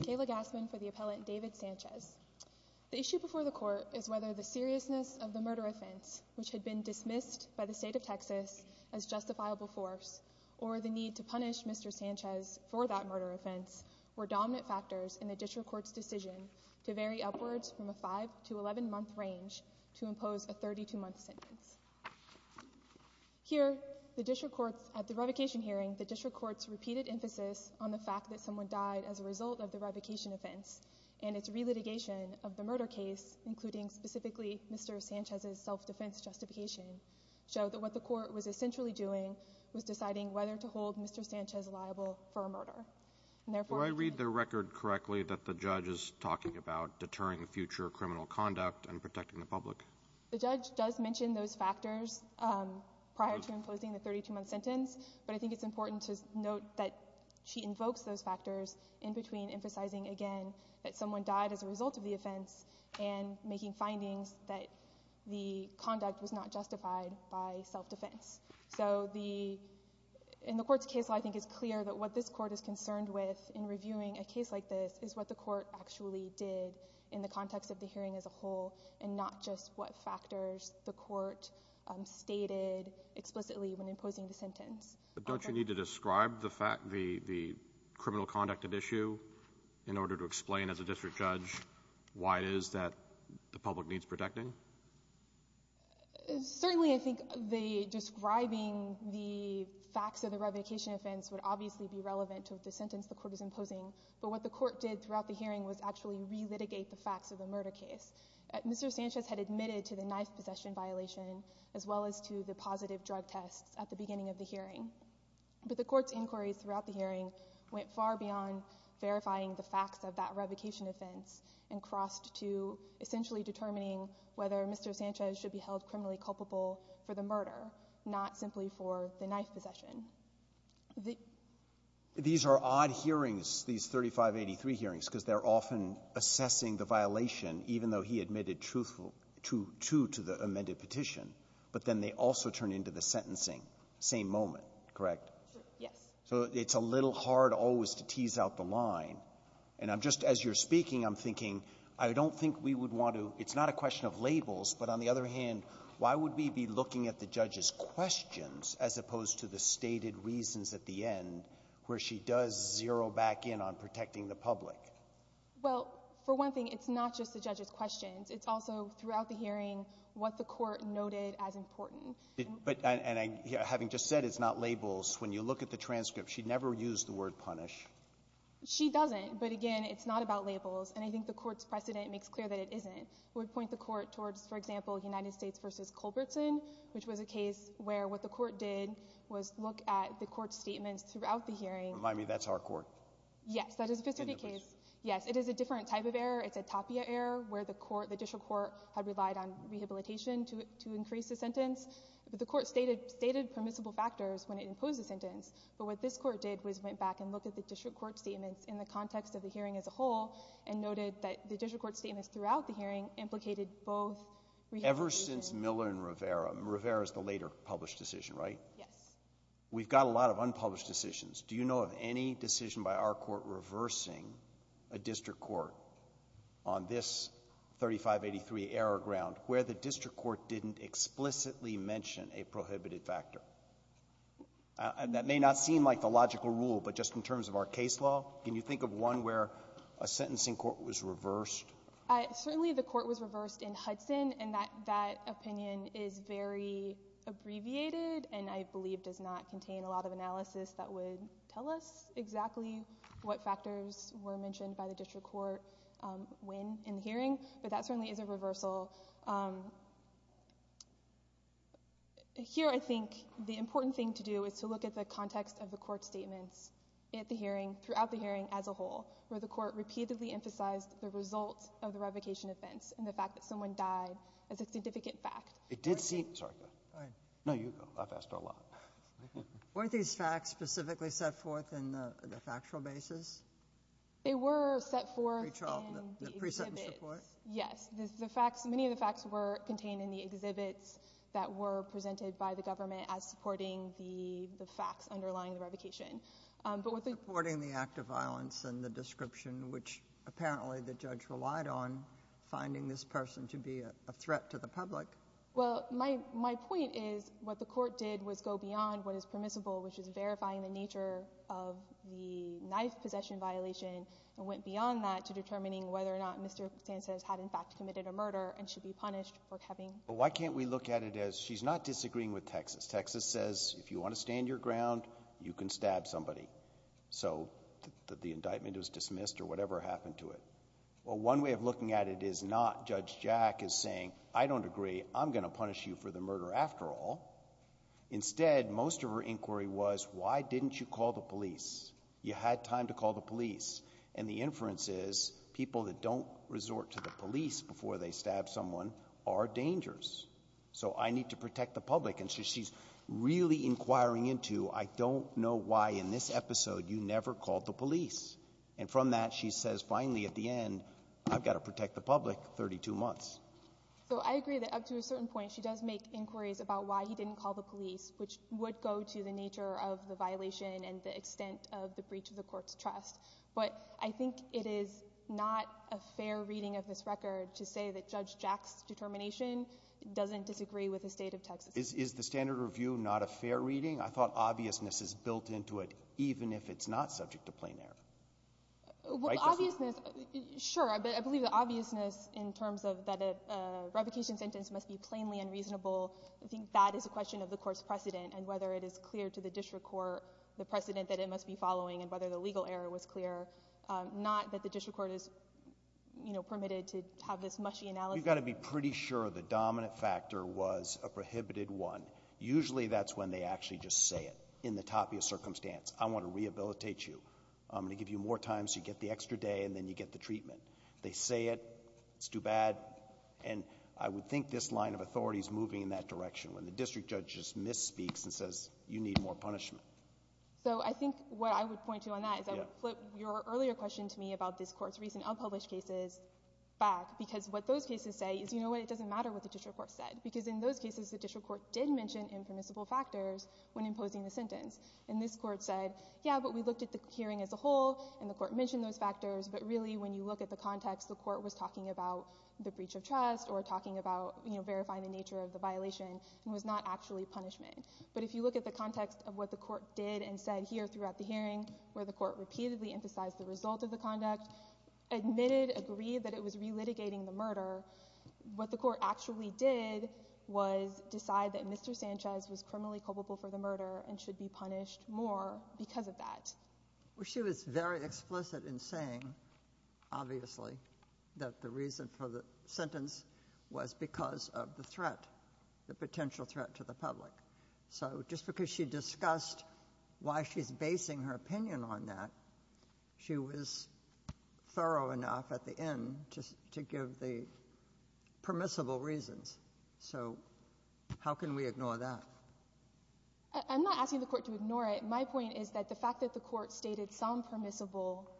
Kayla Gassman for the appellant David Sanchez. The issue before the court is whether the seriousness of the murder offense, which had been dismissed by the state of Texas as justifiable force, or the need to punish Mr. Sanchez for that murder offense, were dominant factors in the district court's decision to vary upwards from a 5 to 11 month range to impose a 32 month sentence. Here, the district courts, at the revocation hearing, the district courts repeated emphasis on the fact that someone died as a result of the revocation offense, and its re-litigation of the murder case, including specifically Mr. Sanchez's self-defense justification, showed that what the court was essentially doing was deciding whether to hold Mr. Sanchez liable for a murder. Do I read the record correctly that the judge is talking about deterring the future criminal conduct and protecting the public? The judge does mention those factors prior to imposing the 32 month sentence, but I think it's important to note that she invokes those factors in between emphasizing again that someone died as a result of the offense and making findings that the conduct was not justified by self-defense. So the, in the court's case, I think it's clear that what this court is concerned with in reviewing a case like this is what the court actually did in the context of the hearing as a whole, and not just what factors the court stated explicitly when imposing the sentence. But don't you need to describe the fact, the criminal conduct at issue, in order to explain as a district judge why it is that the public needs protecting? Certainly I think the describing the facts of the revocation offense would obviously be relevant to the sentence the court is imposing, but what the court did throughout the hearing was actually re-litigate the facts of the murder case. Mr. Sanchez had admitted to the knife possession violation, as well as to the But the court's inquiries throughout the hearing went far beyond verifying the facts of that revocation offense and crossed to essentially determining whether Mr. Sanchez should be held criminally culpable for the murder, not simply for the knife possession. These are odd hearings, these 3583 hearings, because they're often assessing the violation, even though he admitted truthful to the amended petition, but then they also turn into the sentencing, same moment, correct? Yes. So it's a little hard always to tease out the line. And I'm just, as you're speaking, I'm thinking, I don't think we would want to, it's not a question of labels, but on the other hand, why would we be looking at the judge's questions as opposed to the stated reasons at the end where she does zero back in on protecting the public? Well, for one thing, it's not just the judge's questions. It's also, throughout the hearing, what the court noted as important. But, and having just said it's not labels, when you look at the transcript, she never used the word punish. She doesn't. But again, it's not about labels. And I think the court's precedent makes clear that it isn't. It would point the court towards, for example, United States v. Culbertson, which was a case where what the court did was look at the court's statements throughout the hearing. Remind me, that's our court. Yes, that is a specific case. Yes. It is a different type of error. It's a TAPIA error where the court, the district court, had relied on rehabilitation to, to increase the sentence. But the court stated, stated permissible factors when it imposed the sentence. But what this court did was went back and looked at the district court statements in the context of the hearing as a whole and noted that the district court statements throughout the hearing implicated both Ever since Miller and Rivera. Rivera is the later published decision, right? Yes. We've got a lot of unpublished decisions. Do you know of any decision by our court reversing a district court on this 3583 error ground where the district court didn't explicitly mention a prohibited factor? And that may not seem like the logical rule, but just in terms of our case law, can you think of one where a sentencing court was reversed? Certainly the court was reversed in Hudson, and that, that opinion is very abbreviated and I believe does not contain a lot of analysis that would tell us exactly what factors were mentioned by the district court when in the hearing, but that certainly is a reversal. Here I think the important thing to do is to look at the context of the court statements at the hearing, throughout the hearing as a whole, where the court repeatedly emphasized the result of the revocation offense and the fact that someone died as a significant fact. It did seem, sorry, go ahead. No, you go. I've asked a lot. Weren't these facts specifically set forth in the factual basis? They were set forth in the exhibits. The pre-sentence report? Yes. The facts, many of the facts were contained in the exhibits that were presented by the government as supporting the facts underlying the revocation. Supporting the act of violence and the description, which apparently the judge relied on finding this person to be a threat to the public. Well, my point is what the court did was go beyond what is permissible, which is verifying the nature of the knife possession violation and went beyond that to determining whether or not Mr. Sanchez had in fact committed a murder and should be punished for having. Why can't we look at it as, she's not disagreeing with Texas. Texas says if you want to stand your ground, you can stab somebody. So the indictment was dismissed or whatever happened to it. Well, one way of looking at it is not Judge Jack is saying, I don't agree, I'm going to punish you for the murder after all. Instead, most of her inquiry was, why didn't you call the police? You had time to call the police. And the inference is people that don't resort to the police before they stab someone are dangerous. So I need to protect the public. And so she's really inquiring into, I don't know why in this episode you never called the police. And from that, she says finally at the end, I've got to protect the public 32 months. So I agree that up to a certain point, she does make inquiries about why he didn't call the police, which would go to the nature of the violation and the extent of the breach of the court's trust. But I think it is not a fair reading of this record to say that Judge Jack's determination doesn't disagree with the State of Texas. Is the standard review not a fair reading? I thought obviousness is built into it, even if it's not subject to plain error. Well, obviousness, sure. I believe the obviousness in terms of that a revocation sentence must be plainly unreasonable. I think that is a question of the court's precedent and whether it is clear to the district court the precedent that it must be following and whether the legal error was clear. Not that the district court is permitted to have this mushy analysis. You've got to be pretty sure the dominant factor was a prohibited one. Usually that's when they actually just say it, in the top of your circumstance. I want to rehabilitate you. I'm going to give you more time so you get the extra day and then you get the treatment. They say it. It's too bad. And I would think this line of authority is moving in that direction when the district judge just misspeaks and says you need more punishment. So I think what I would point to on that is I would flip your earlier question to me about this Court's recent unpublished cases back, because what those cases say is, you know what, it doesn't matter what the district court said, because in those cases the district court did mention impermissible factors when imposing the sentence. And this court said, yeah, but we looked at the hearing as a whole and the court mentioned those factors, but really when you look at the context, the court was talking about the breach of trust or talking about verifying the nature of the violation and was not actually punishment. But if you look at the context of what the court did and said here throughout the hearing, where the court repeatedly emphasized the result of the conduct, admitted, agreed that it was relitigating the murder, what the court actually did was decide that Mr. Sanchez was criminally culpable for the murder and should be punished more because of that. Well, she was very explicit in saying, obviously, that the reason for the sentence was because of the threat, the potential threat to the public. So just because she discussed why she's basing her opinion on that, she was thorough enough at the end to give the permissible reasons. So how can we ignore that? I'm not asking the court to ignore it. My point is that the fact that the court stated some permissible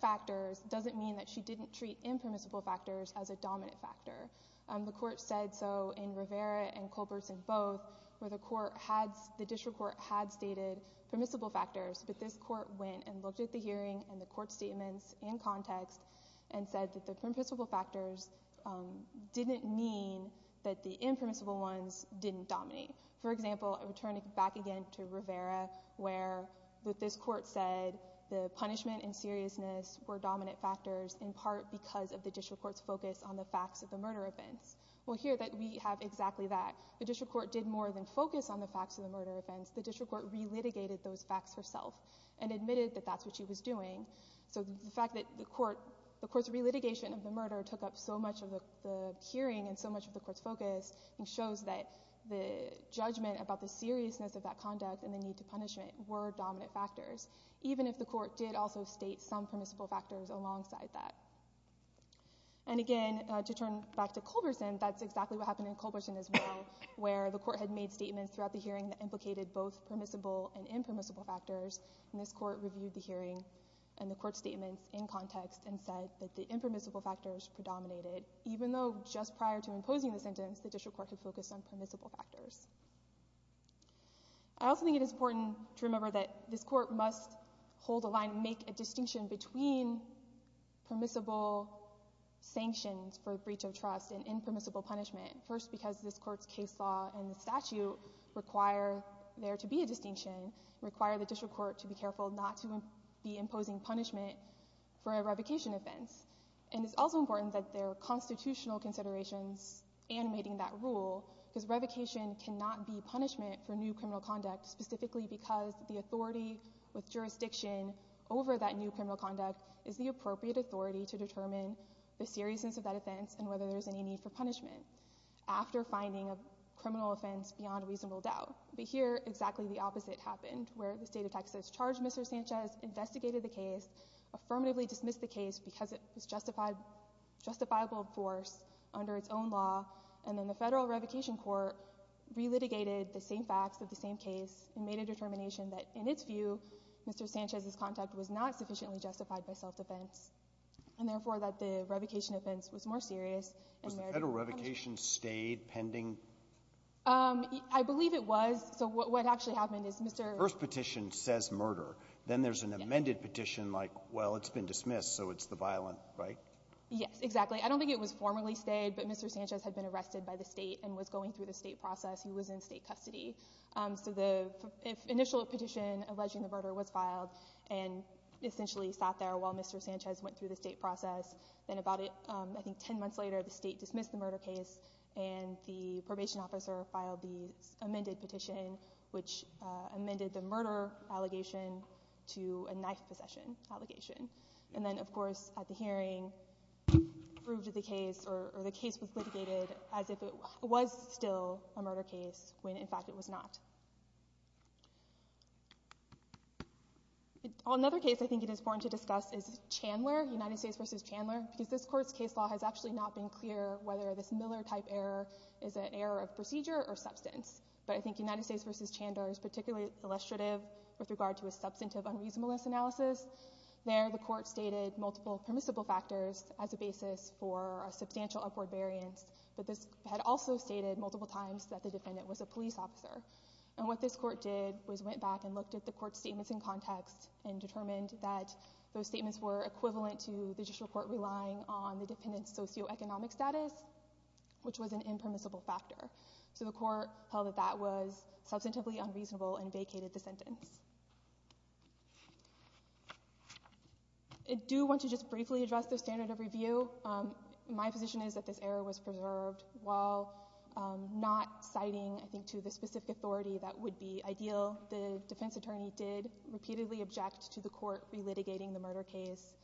factors doesn't mean that she didn't treat impermissible factors as a dominant factor. The court said so in Rivera and Culbertson both, where the district court had stated permissible factors, but this court went and looked at the hearing and the court statements and context and said that the permissible factors didn't mean that the impermissible ones didn't dominate. For example, I would turn it back again to Rivera, where this court said the punishment and seriousness were dominant factors in part because of the district court's focus on the facts of the murder offense. Well, here we have exactly that. The district court did more than focus on the facts of the murder offense. The district court re-litigated those facts herself and admitted that that's what she was doing. So the fact that the court's re-litigation of the murder took up so much of the hearing and so much of the court's focus shows that the judgment about the seriousness of that conduct and the need to punishment were dominant factors, even if the court did also state some permissible factors alongside that. And again, to turn back to Culberson, that's exactly what happened in Culberson as well, where the court had made statements throughout the hearing that implicated both permissible and impermissible factors, and this court reviewed the hearing and the court statements in context and said that the impermissible factors predominated, even though just prior to imposing the sentence, the district court had focused on permissible factors. I also think it is important to remember that this court must hold a line and make a distinction between permissible sanctions for breach of trust and impermissible punishment, first because this court's case law and the statute require there to be a distinction, require the district court to be careful not to be imposing punishment for a revocation offense. And it's also important that there are constitutional considerations animating that rule, because revocation cannot be punishment for new criminal conduct, specifically because the authority with jurisdiction over that new criminal conduct is the appropriate authority to determine the seriousness of that offense and whether there's any need for punishment, after finding a criminal offense beyond reasonable doubt. But here, exactly the opposite happened, where the state of Texas charged Mr. Sanchez, investigated the case, affirmatively dismissed the case because it was justifiable in force under its own law, and then the federal revocation court relitigated the same facts of the same case and made a determination that, in its view, Mr. Sanchez's conduct was not sufficiently justified by self-defense and, therefore, that the revocation offense was more serious. And there is a punishment. Was the federal revocation stayed pending? I believe it was. So what actually happened is Mr. — The first petition says murder. Yes. Then there's an amended petition like, well, it's been dismissed, so it's the violent, right? Yes, exactly. I don't think it was formally stayed, but Mr. Sanchez had been arrested by the state process. He was in state custody. So the initial petition alleging the murder was filed and essentially sat there while Mr. Sanchez went through the state process. Then about, I think, ten months later, the state dismissed the murder case and the probation officer filed the amended petition, which amended the murder allegation to a knife possession allegation. And then, of course, at the hearing, proved the case or the case was litigated as if it was still a murder case when, in fact, it was not. Another case I think it is important to discuss is Chandler, United States versus Chandler, because this court's case law has actually not been clear whether this Miller-type error is an error of procedure or substance. But I think United States versus Chandler is particularly illustrative with regard to a substantive unreasonableness analysis. There, the court stated multiple permissible factors as a basis for a sentence, but this had also stated multiple times that the defendant was a police officer. And what this court did was went back and looked at the court's statements in context and determined that those statements were equivalent to the judicial court relying on the defendant's socioeconomic status, which was an impermissible factor. So the court held that that was substantively unreasonable and vacated the sentence. I do want to just briefly address the standard of review. My position is that this error was preserved. While not citing, I think, to the specific authority that would be ideal, the defense attorney did repeatedly object to the court relitigating the murder case,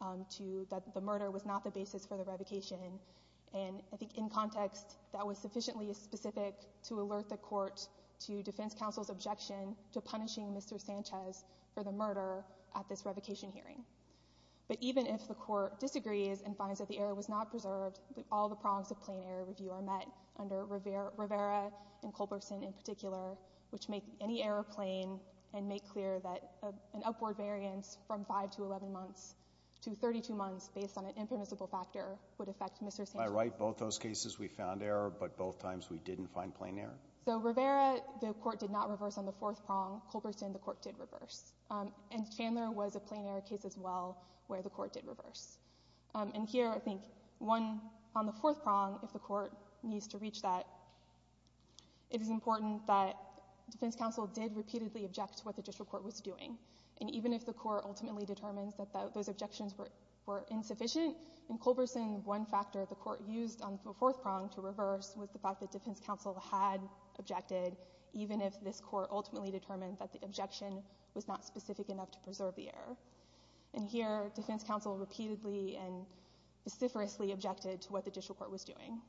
that the murder was not the basis for the revocation. And I think in context, that was sufficiently specific to alert the court to defense counsel's objection to punishing Mr. Sanchez for the murder at this revocation hearing. But even if the court disagrees and finds that the error was not preserved, all the prongs of plain error review are met under Rivera and Culberson in particular, which make any error plain and make clear that an upward variance from five to 11 months to 32 months based on an impermissible factor would affect Mr. Sanchez. Am I right? Both those cases we found error, but both times we didn't find plain error? So Rivera, the court did not reverse on the fourth prong. Culberson, the court did reverse. And Chandler was a plain error case as well where the court did reverse. And here, I think, on the fourth prong, if the court needs to reach that, it is important that defense counsel did repeatedly object to what the district court was doing. And even if the court ultimately determines that those objections were insufficient, in Culberson, one factor the court used on the fourth prong to reverse was the fact that defense counsel had objected, even if this court ultimately determined that the objection was not specific enough to preserve the error. And here, defense counsel repeatedly and vociferously objected to what the district court was doing.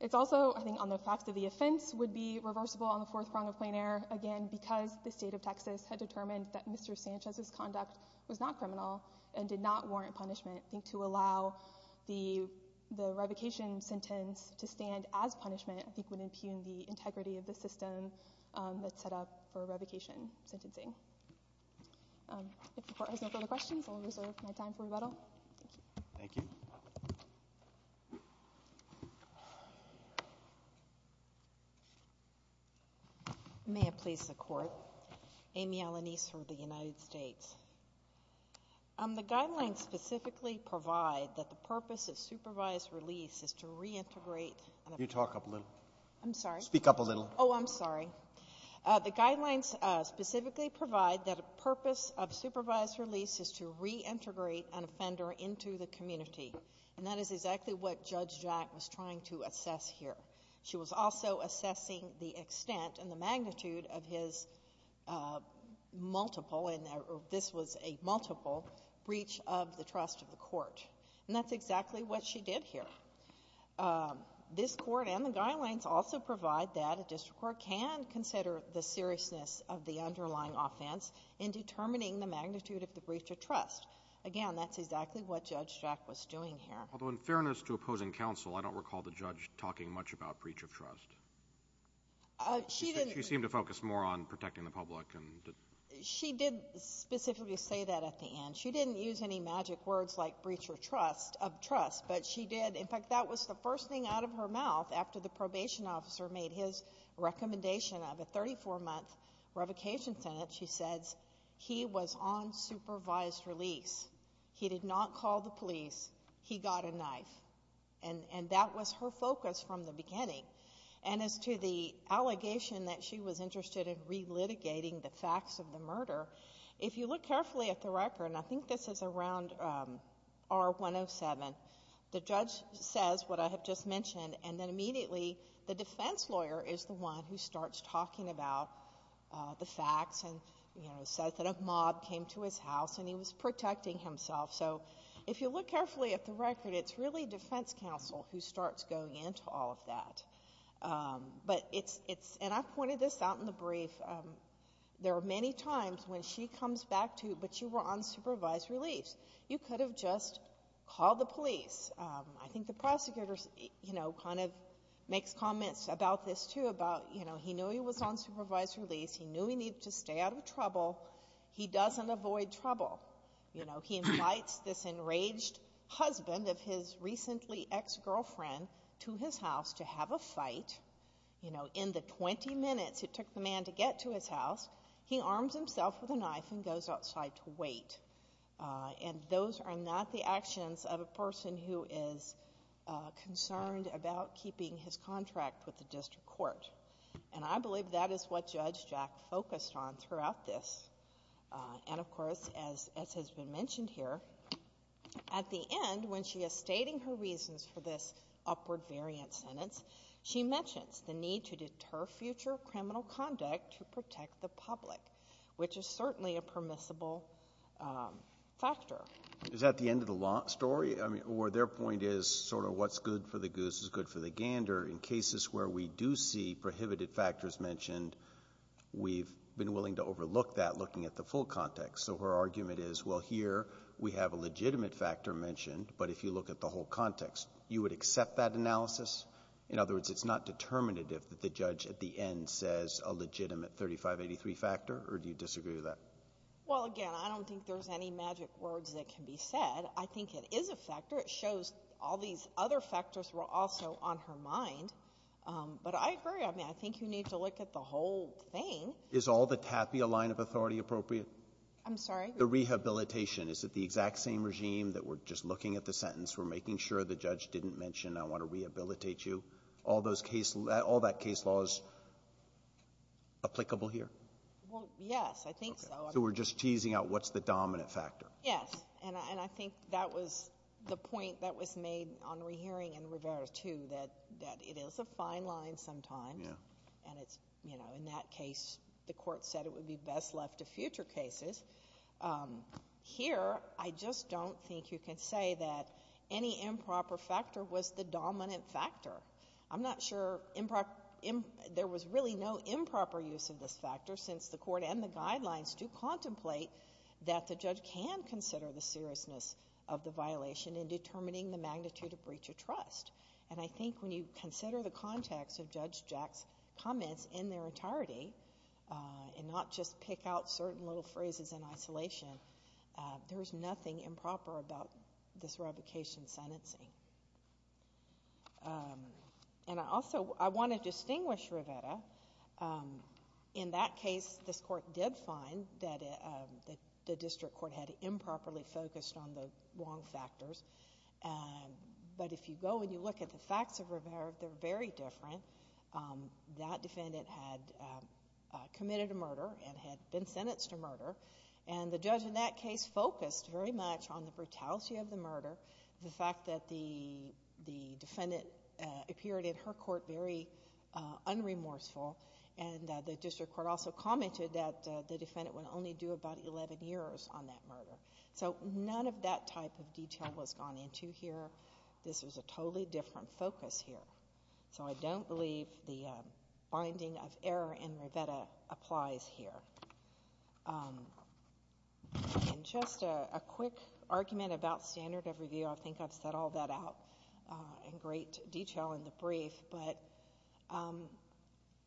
It's also, I think, on the fact that the offense would be reversible on the fourth prong of plain error, again, because the state of Texas had determined that Mr. Sanchez's conduct was not criminal and did not warrant punishment. I think to allow the revocation sentence to stand as punishment, I think, would impugn the integrity of the system that's set up for revocation sentencing. If the Court has no further questions, I'll reserve my time for rebuttal. Thank you. Thank you. May it please the Court. Amy Alanise for the United States. The guidelines specifically provide that the purpose of supervised release is to reintegrate the ---- You talk up a little. I'm sorry. Speak up a little. Oh, I'm sorry. The guidelines specifically provide that the purpose of supervised release is to reintegrate an offender into the community. And that is exactly what Judge Jack was trying to assess here. She was also assessing the extent and the magnitude of his multiple, and this was a multiple, breach of the trust of the Court. And that's exactly what she did here. This Court and the guidelines also provide that a district court can consider the seriousness of the underlying offense in determining the magnitude of the breach of trust. Again, that's exactly what Judge Jack was doing here. Although in fairness to opposing counsel, I don't recall the judge talking much about breach of trust. She didn't. She seemed to focus more on protecting the public. She did specifically say that at the end. She didn't use any magic words like breach of trust, but she did. In fact, that was the first thing out of her mouth after the probation officer made his recommendation of a 34-month revocation sentence. She says, he was on supervised release. He did not call the police. He got a knife. And that was her focus from the beginning. And as to the allegation that she was interested in relitigating the facts of the murder, if you look carefully at the record, and I think this is around R107, the judge says what I have just mentioned, and then immediately the defense lawyer is the one who starts talking about the facts and says that a mob came to his house and he was protecting himself. So if you look carefully at the record, it's really defense counsel who starts going into all of that. But it's, and I pointed this out in the brief, there are many times when she comes back to, but you were on supervised release. You could have just called the police. I think the prosecutor, you know, kind of makes comments about this, too, about, you know, he knew he was on supervised release. He knew he needed to stay out of trouble. He doesn't avoid trouble. You know, he invites this enraged husband of his recently ex-girlfriend to his house. You know, in the 20 minutes it took the man to get to his house, he arms himself with a knife and goes outside to wait. And those are not the actions of a person who is concerned about keeping his contract with the district court. And I believe that is what Judge Jack focused on throughout this. And, of course, as has been mentioned here, at the end, when she is stating her variant sentence, she mentions the need to deter future criminal conduct to protect the public, which is certainly a permissible factor. Is that the end of the story? I mean, or their point is sort of what's good for the goose is good for the gander. In cases where we do see prohibited factors mentioned, we've been willing to overlook that looking at the full context. So her argument is, well, here we have a legitimate factor mentioned, but if you look at the whole context, you would accept that analysis? In other words, it's not determinative that the judge at the end says a legitimate 3583 factor, or do you disagree with that? Well, again, I don't think there's any magic words that can be said. I think it is a factor. It shows all these other factors were also on her mind. But I agree. I mean, I think you need to look at the whole thing. Is all the tapia line of authority appropriate? I'm sorry? The rehabilitation. Is it the exact same regime that we're just looking at the sentence, we're making sure the judge didn't mention I want to rehabilitate you? All those case laws, all that case law is applicable here? Well, yes. I think so. So we're just teasing out what's the dominant factor? Yes. And I think that was the point that was made on rehearing in Rivera, too, that it is a fine line sometimes. And it's, you know, in that case, the Court said it would be best left to future cases. Here, I just don't think you can say that any improper factor was the dominant factor. I'm not sure there was really no improper use of this factor, since the Court and the guidelines do contemplate that the judge can consider the seriousness of the violation in determining the magnitude of breach of trust. And I think when you consider the context of Judge Jack's comments in their phrases in isolation, there was nothing improper about this revocation sentencing. And also, I want to distinguish Rivera. In that case, this Court did find that the district court had improperly focused on the wrong factors. But if you go and you look at the facts of Rivera, they're very different. That defendant had committed a murder and had been sentenced to murder. And the judge in that case focused very much on the brutality of the murder, the fact that the defendant appeared in her court very unremorseful. And the district court also commented that the defendant would only do about eleven years on that murder. So none of that type of detail was gone into here. This was a totally different focus here. So I don't believe the binding of error in Rivera applies here. And just a quick argument about standard of review. I think I've set all that out in great detail in the brief. But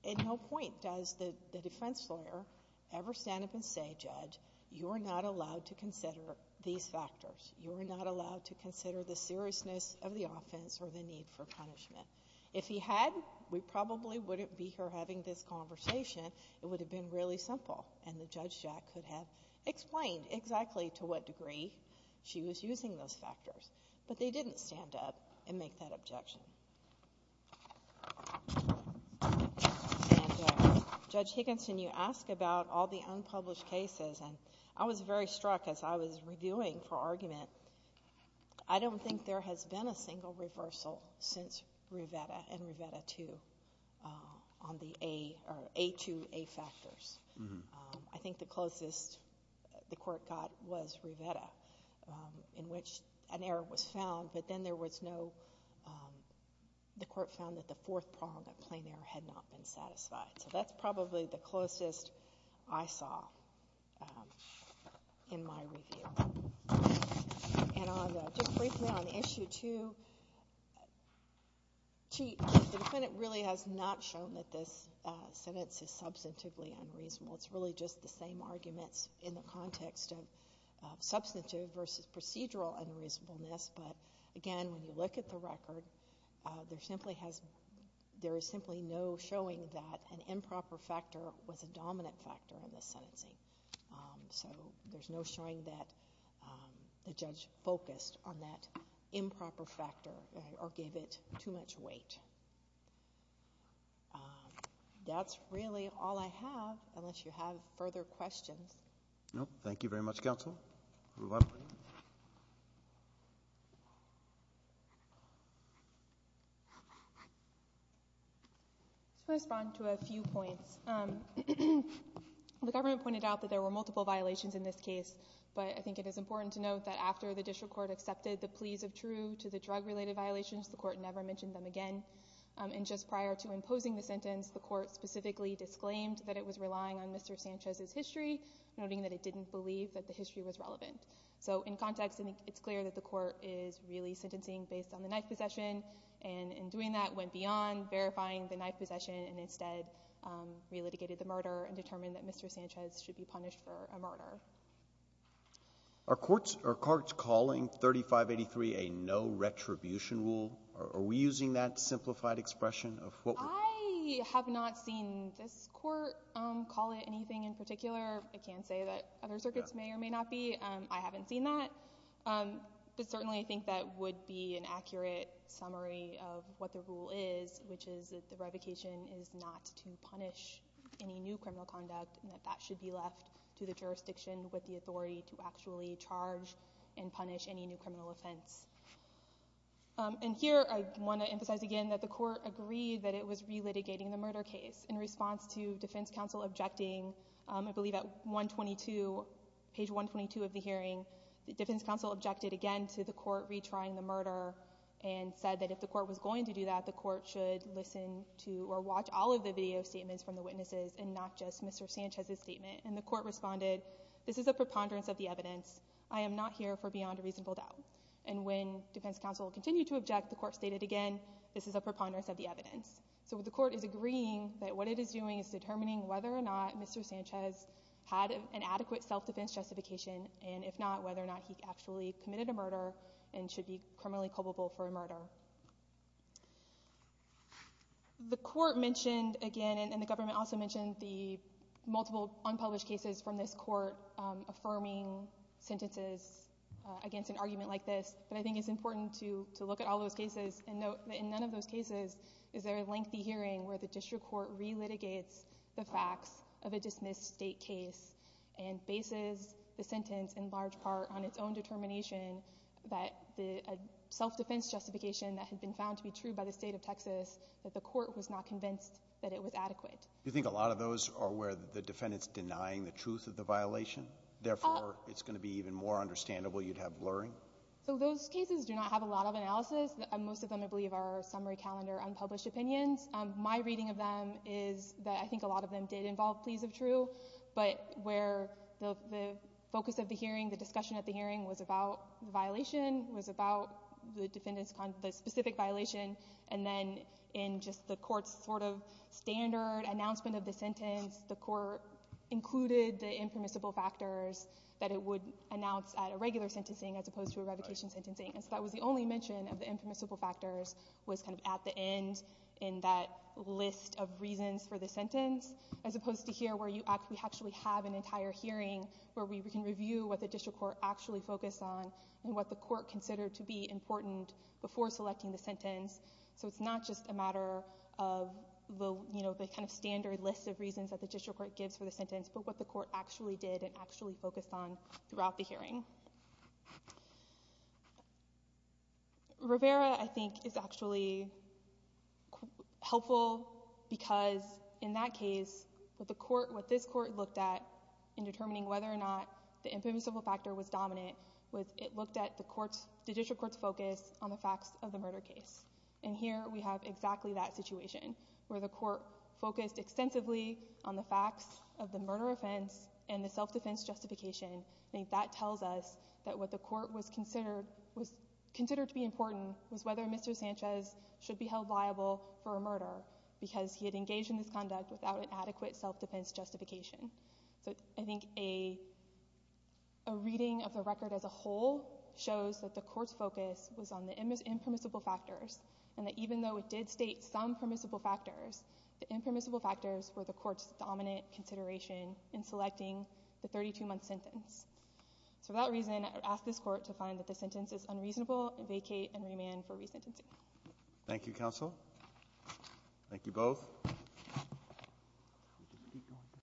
at no point does the defense lawyer ever stand up and say, Judge, you are not allowed to consider these factors. You are not allowed to consider the seriousness of the offense or the need for punishment. If he had, we probably wouldn't be here having this conversation. It would have been really simple, and the judge could have explained exactly to what degree she was using those factors. But they didn't stand up and make that objection. Judge Higginson, you ask about all the unpublished cases, and I was very struck as I was reviewing for argument. I don't think there has been a single reversal since Rivera and Rivera II on the A or A2A factors. I think the closest the Court got was Rivera, in which an error was found, but then there was no, the Court found that the fourth prong of plain error had not been satisfied. So that's probably the closest I saw in my review. And just briefly on Issue 2, the defendant really has not shown that this sentence is substantively unreasonable. It's really just the same arguments in the context of substantive versus procedural unreasonableness. But, again, when you look at the record, there is simply no showing that an improper factor was a dominant factor in the sentencing. So there's no showing that the judge focused on that improper factor or gave it too much weight. That's really all I have, unless you have further questions. Thank you very much, Counsel. To respond to a few points, the government pointed out that there were multiple violations in this case, but I think it is important to note that after the district court accepted the pleas of true to the drug-related violations, the court never mentioned them again. And just prior to imposing the sentence, the court specifically disclaimed that it was relying on Mr. Sanchez's history, noting that it didn't believe that the history was relevant. So in context, I think it's clear that the court is really sentencing based on the knife possession and in doing that went beyond verifying the knife possession and instead relitigated the murder and determined that Mr. Sanchez should be punished for a murder. Are courts calling 3583 a no-retribution rule? Are we using that simplified expression of what we're doing? I have not seen this court call it anything in particular. I can say that other circuits may or may not be. I haven't seen that. But certainly I think that would be an accurate summary of what the rule is, which is that the revocation is not to punish any new criminal conduct and that that should be left to the jurisdiction with the authority to actually charge and punish any new criminal offense. And here I want to emphasize again that the court agreed that it was relitigating the murder case. In response to defense counsel objecting, I believe at page 122 of the hearing, the defense counsel objected again to the court retrying the murder and said that if the court was going to do that, the court should listen to or watch all of the video statements from the witnesses and not just Mr. Sanchez's statement. And the court responded, this is a preponderance of the evidence. I am not here for beyond a reasonable doubt. And when defense counsel continued to object, the court stated again, this is a preponderance of the evidence. So the court is agreeing that what it is doing is determining whether or not Mr. Sanchez had an adequate self-defense justification and if not, whether or not he actually committed a murder and should be criminally culpable for a murder. The court mentioned again, and the government also mentioned the multiple unpublished cases from this court affirming sentences against an argument like this. But I think it's important to look at all those cases and note that in none of those cases is there a lengthy hearing where the district court relitigates the facts of a dismissed state case and bases the sentence in large part on its own determination that the self-defense justification that had been found to be true by the state of Texas, that the court was not convinced that it was adequate. Do you think a lot of those are where the defendant's denying the truth of the violation? Therefore, it's going to be even more understandable you'd have blurring? So those cases do not have a lot of analysis. Most of them, I believe, are summary calendar unpublished opinions. My reading of them is that I think a lot of them did involve pleas of true, but where the focus of the hearing, the discussion at the hearing was about the violation, was about the defendant's specific violation, and then in just the court's sort of standard announcement of the sentence, the court included the impermissible factors that it would announce at a regular sentencing as opposed to a revocation sentencing. And so that was the only mention of the impermissible factors was kind of at the end in that list of reasons for the sentence, as opposed to here where you actually have an entire hearing where we can review what the district court actually focused on and what the court considered to be important before selecting the sentence. So it's not just a matter of the kind of standard list of reasons that the district court gives for the sentence, but what the court actually did and actually focused on throughout the hearing. Rivera, I think, is actually helpful because in that case, what this court looked at in determining whether or not the impermissible factor was dominant was it looked at the district court's focus on the facts of the murder case. And here we have exactly that situation, where the court focused extensively on the facts of the murder offense and the self-defense justification. I think that tells us that what the court considered to be important was whether Mr. Sanchez should be held liable for a murder because he had engaged in this conduct without an adequate self-defense justification. So I think a reading of the record as a whole shows that the court's focus was on the impermissible factors and that even though it did state some permissible factors, the impermissible factors were the court's dominant consideration in selecting the 32-month sentence. So for that reason, I ask this court to find that the sentence is unreasonable and vacate and remand for resentencing. Thank you, counsel. Thank you both.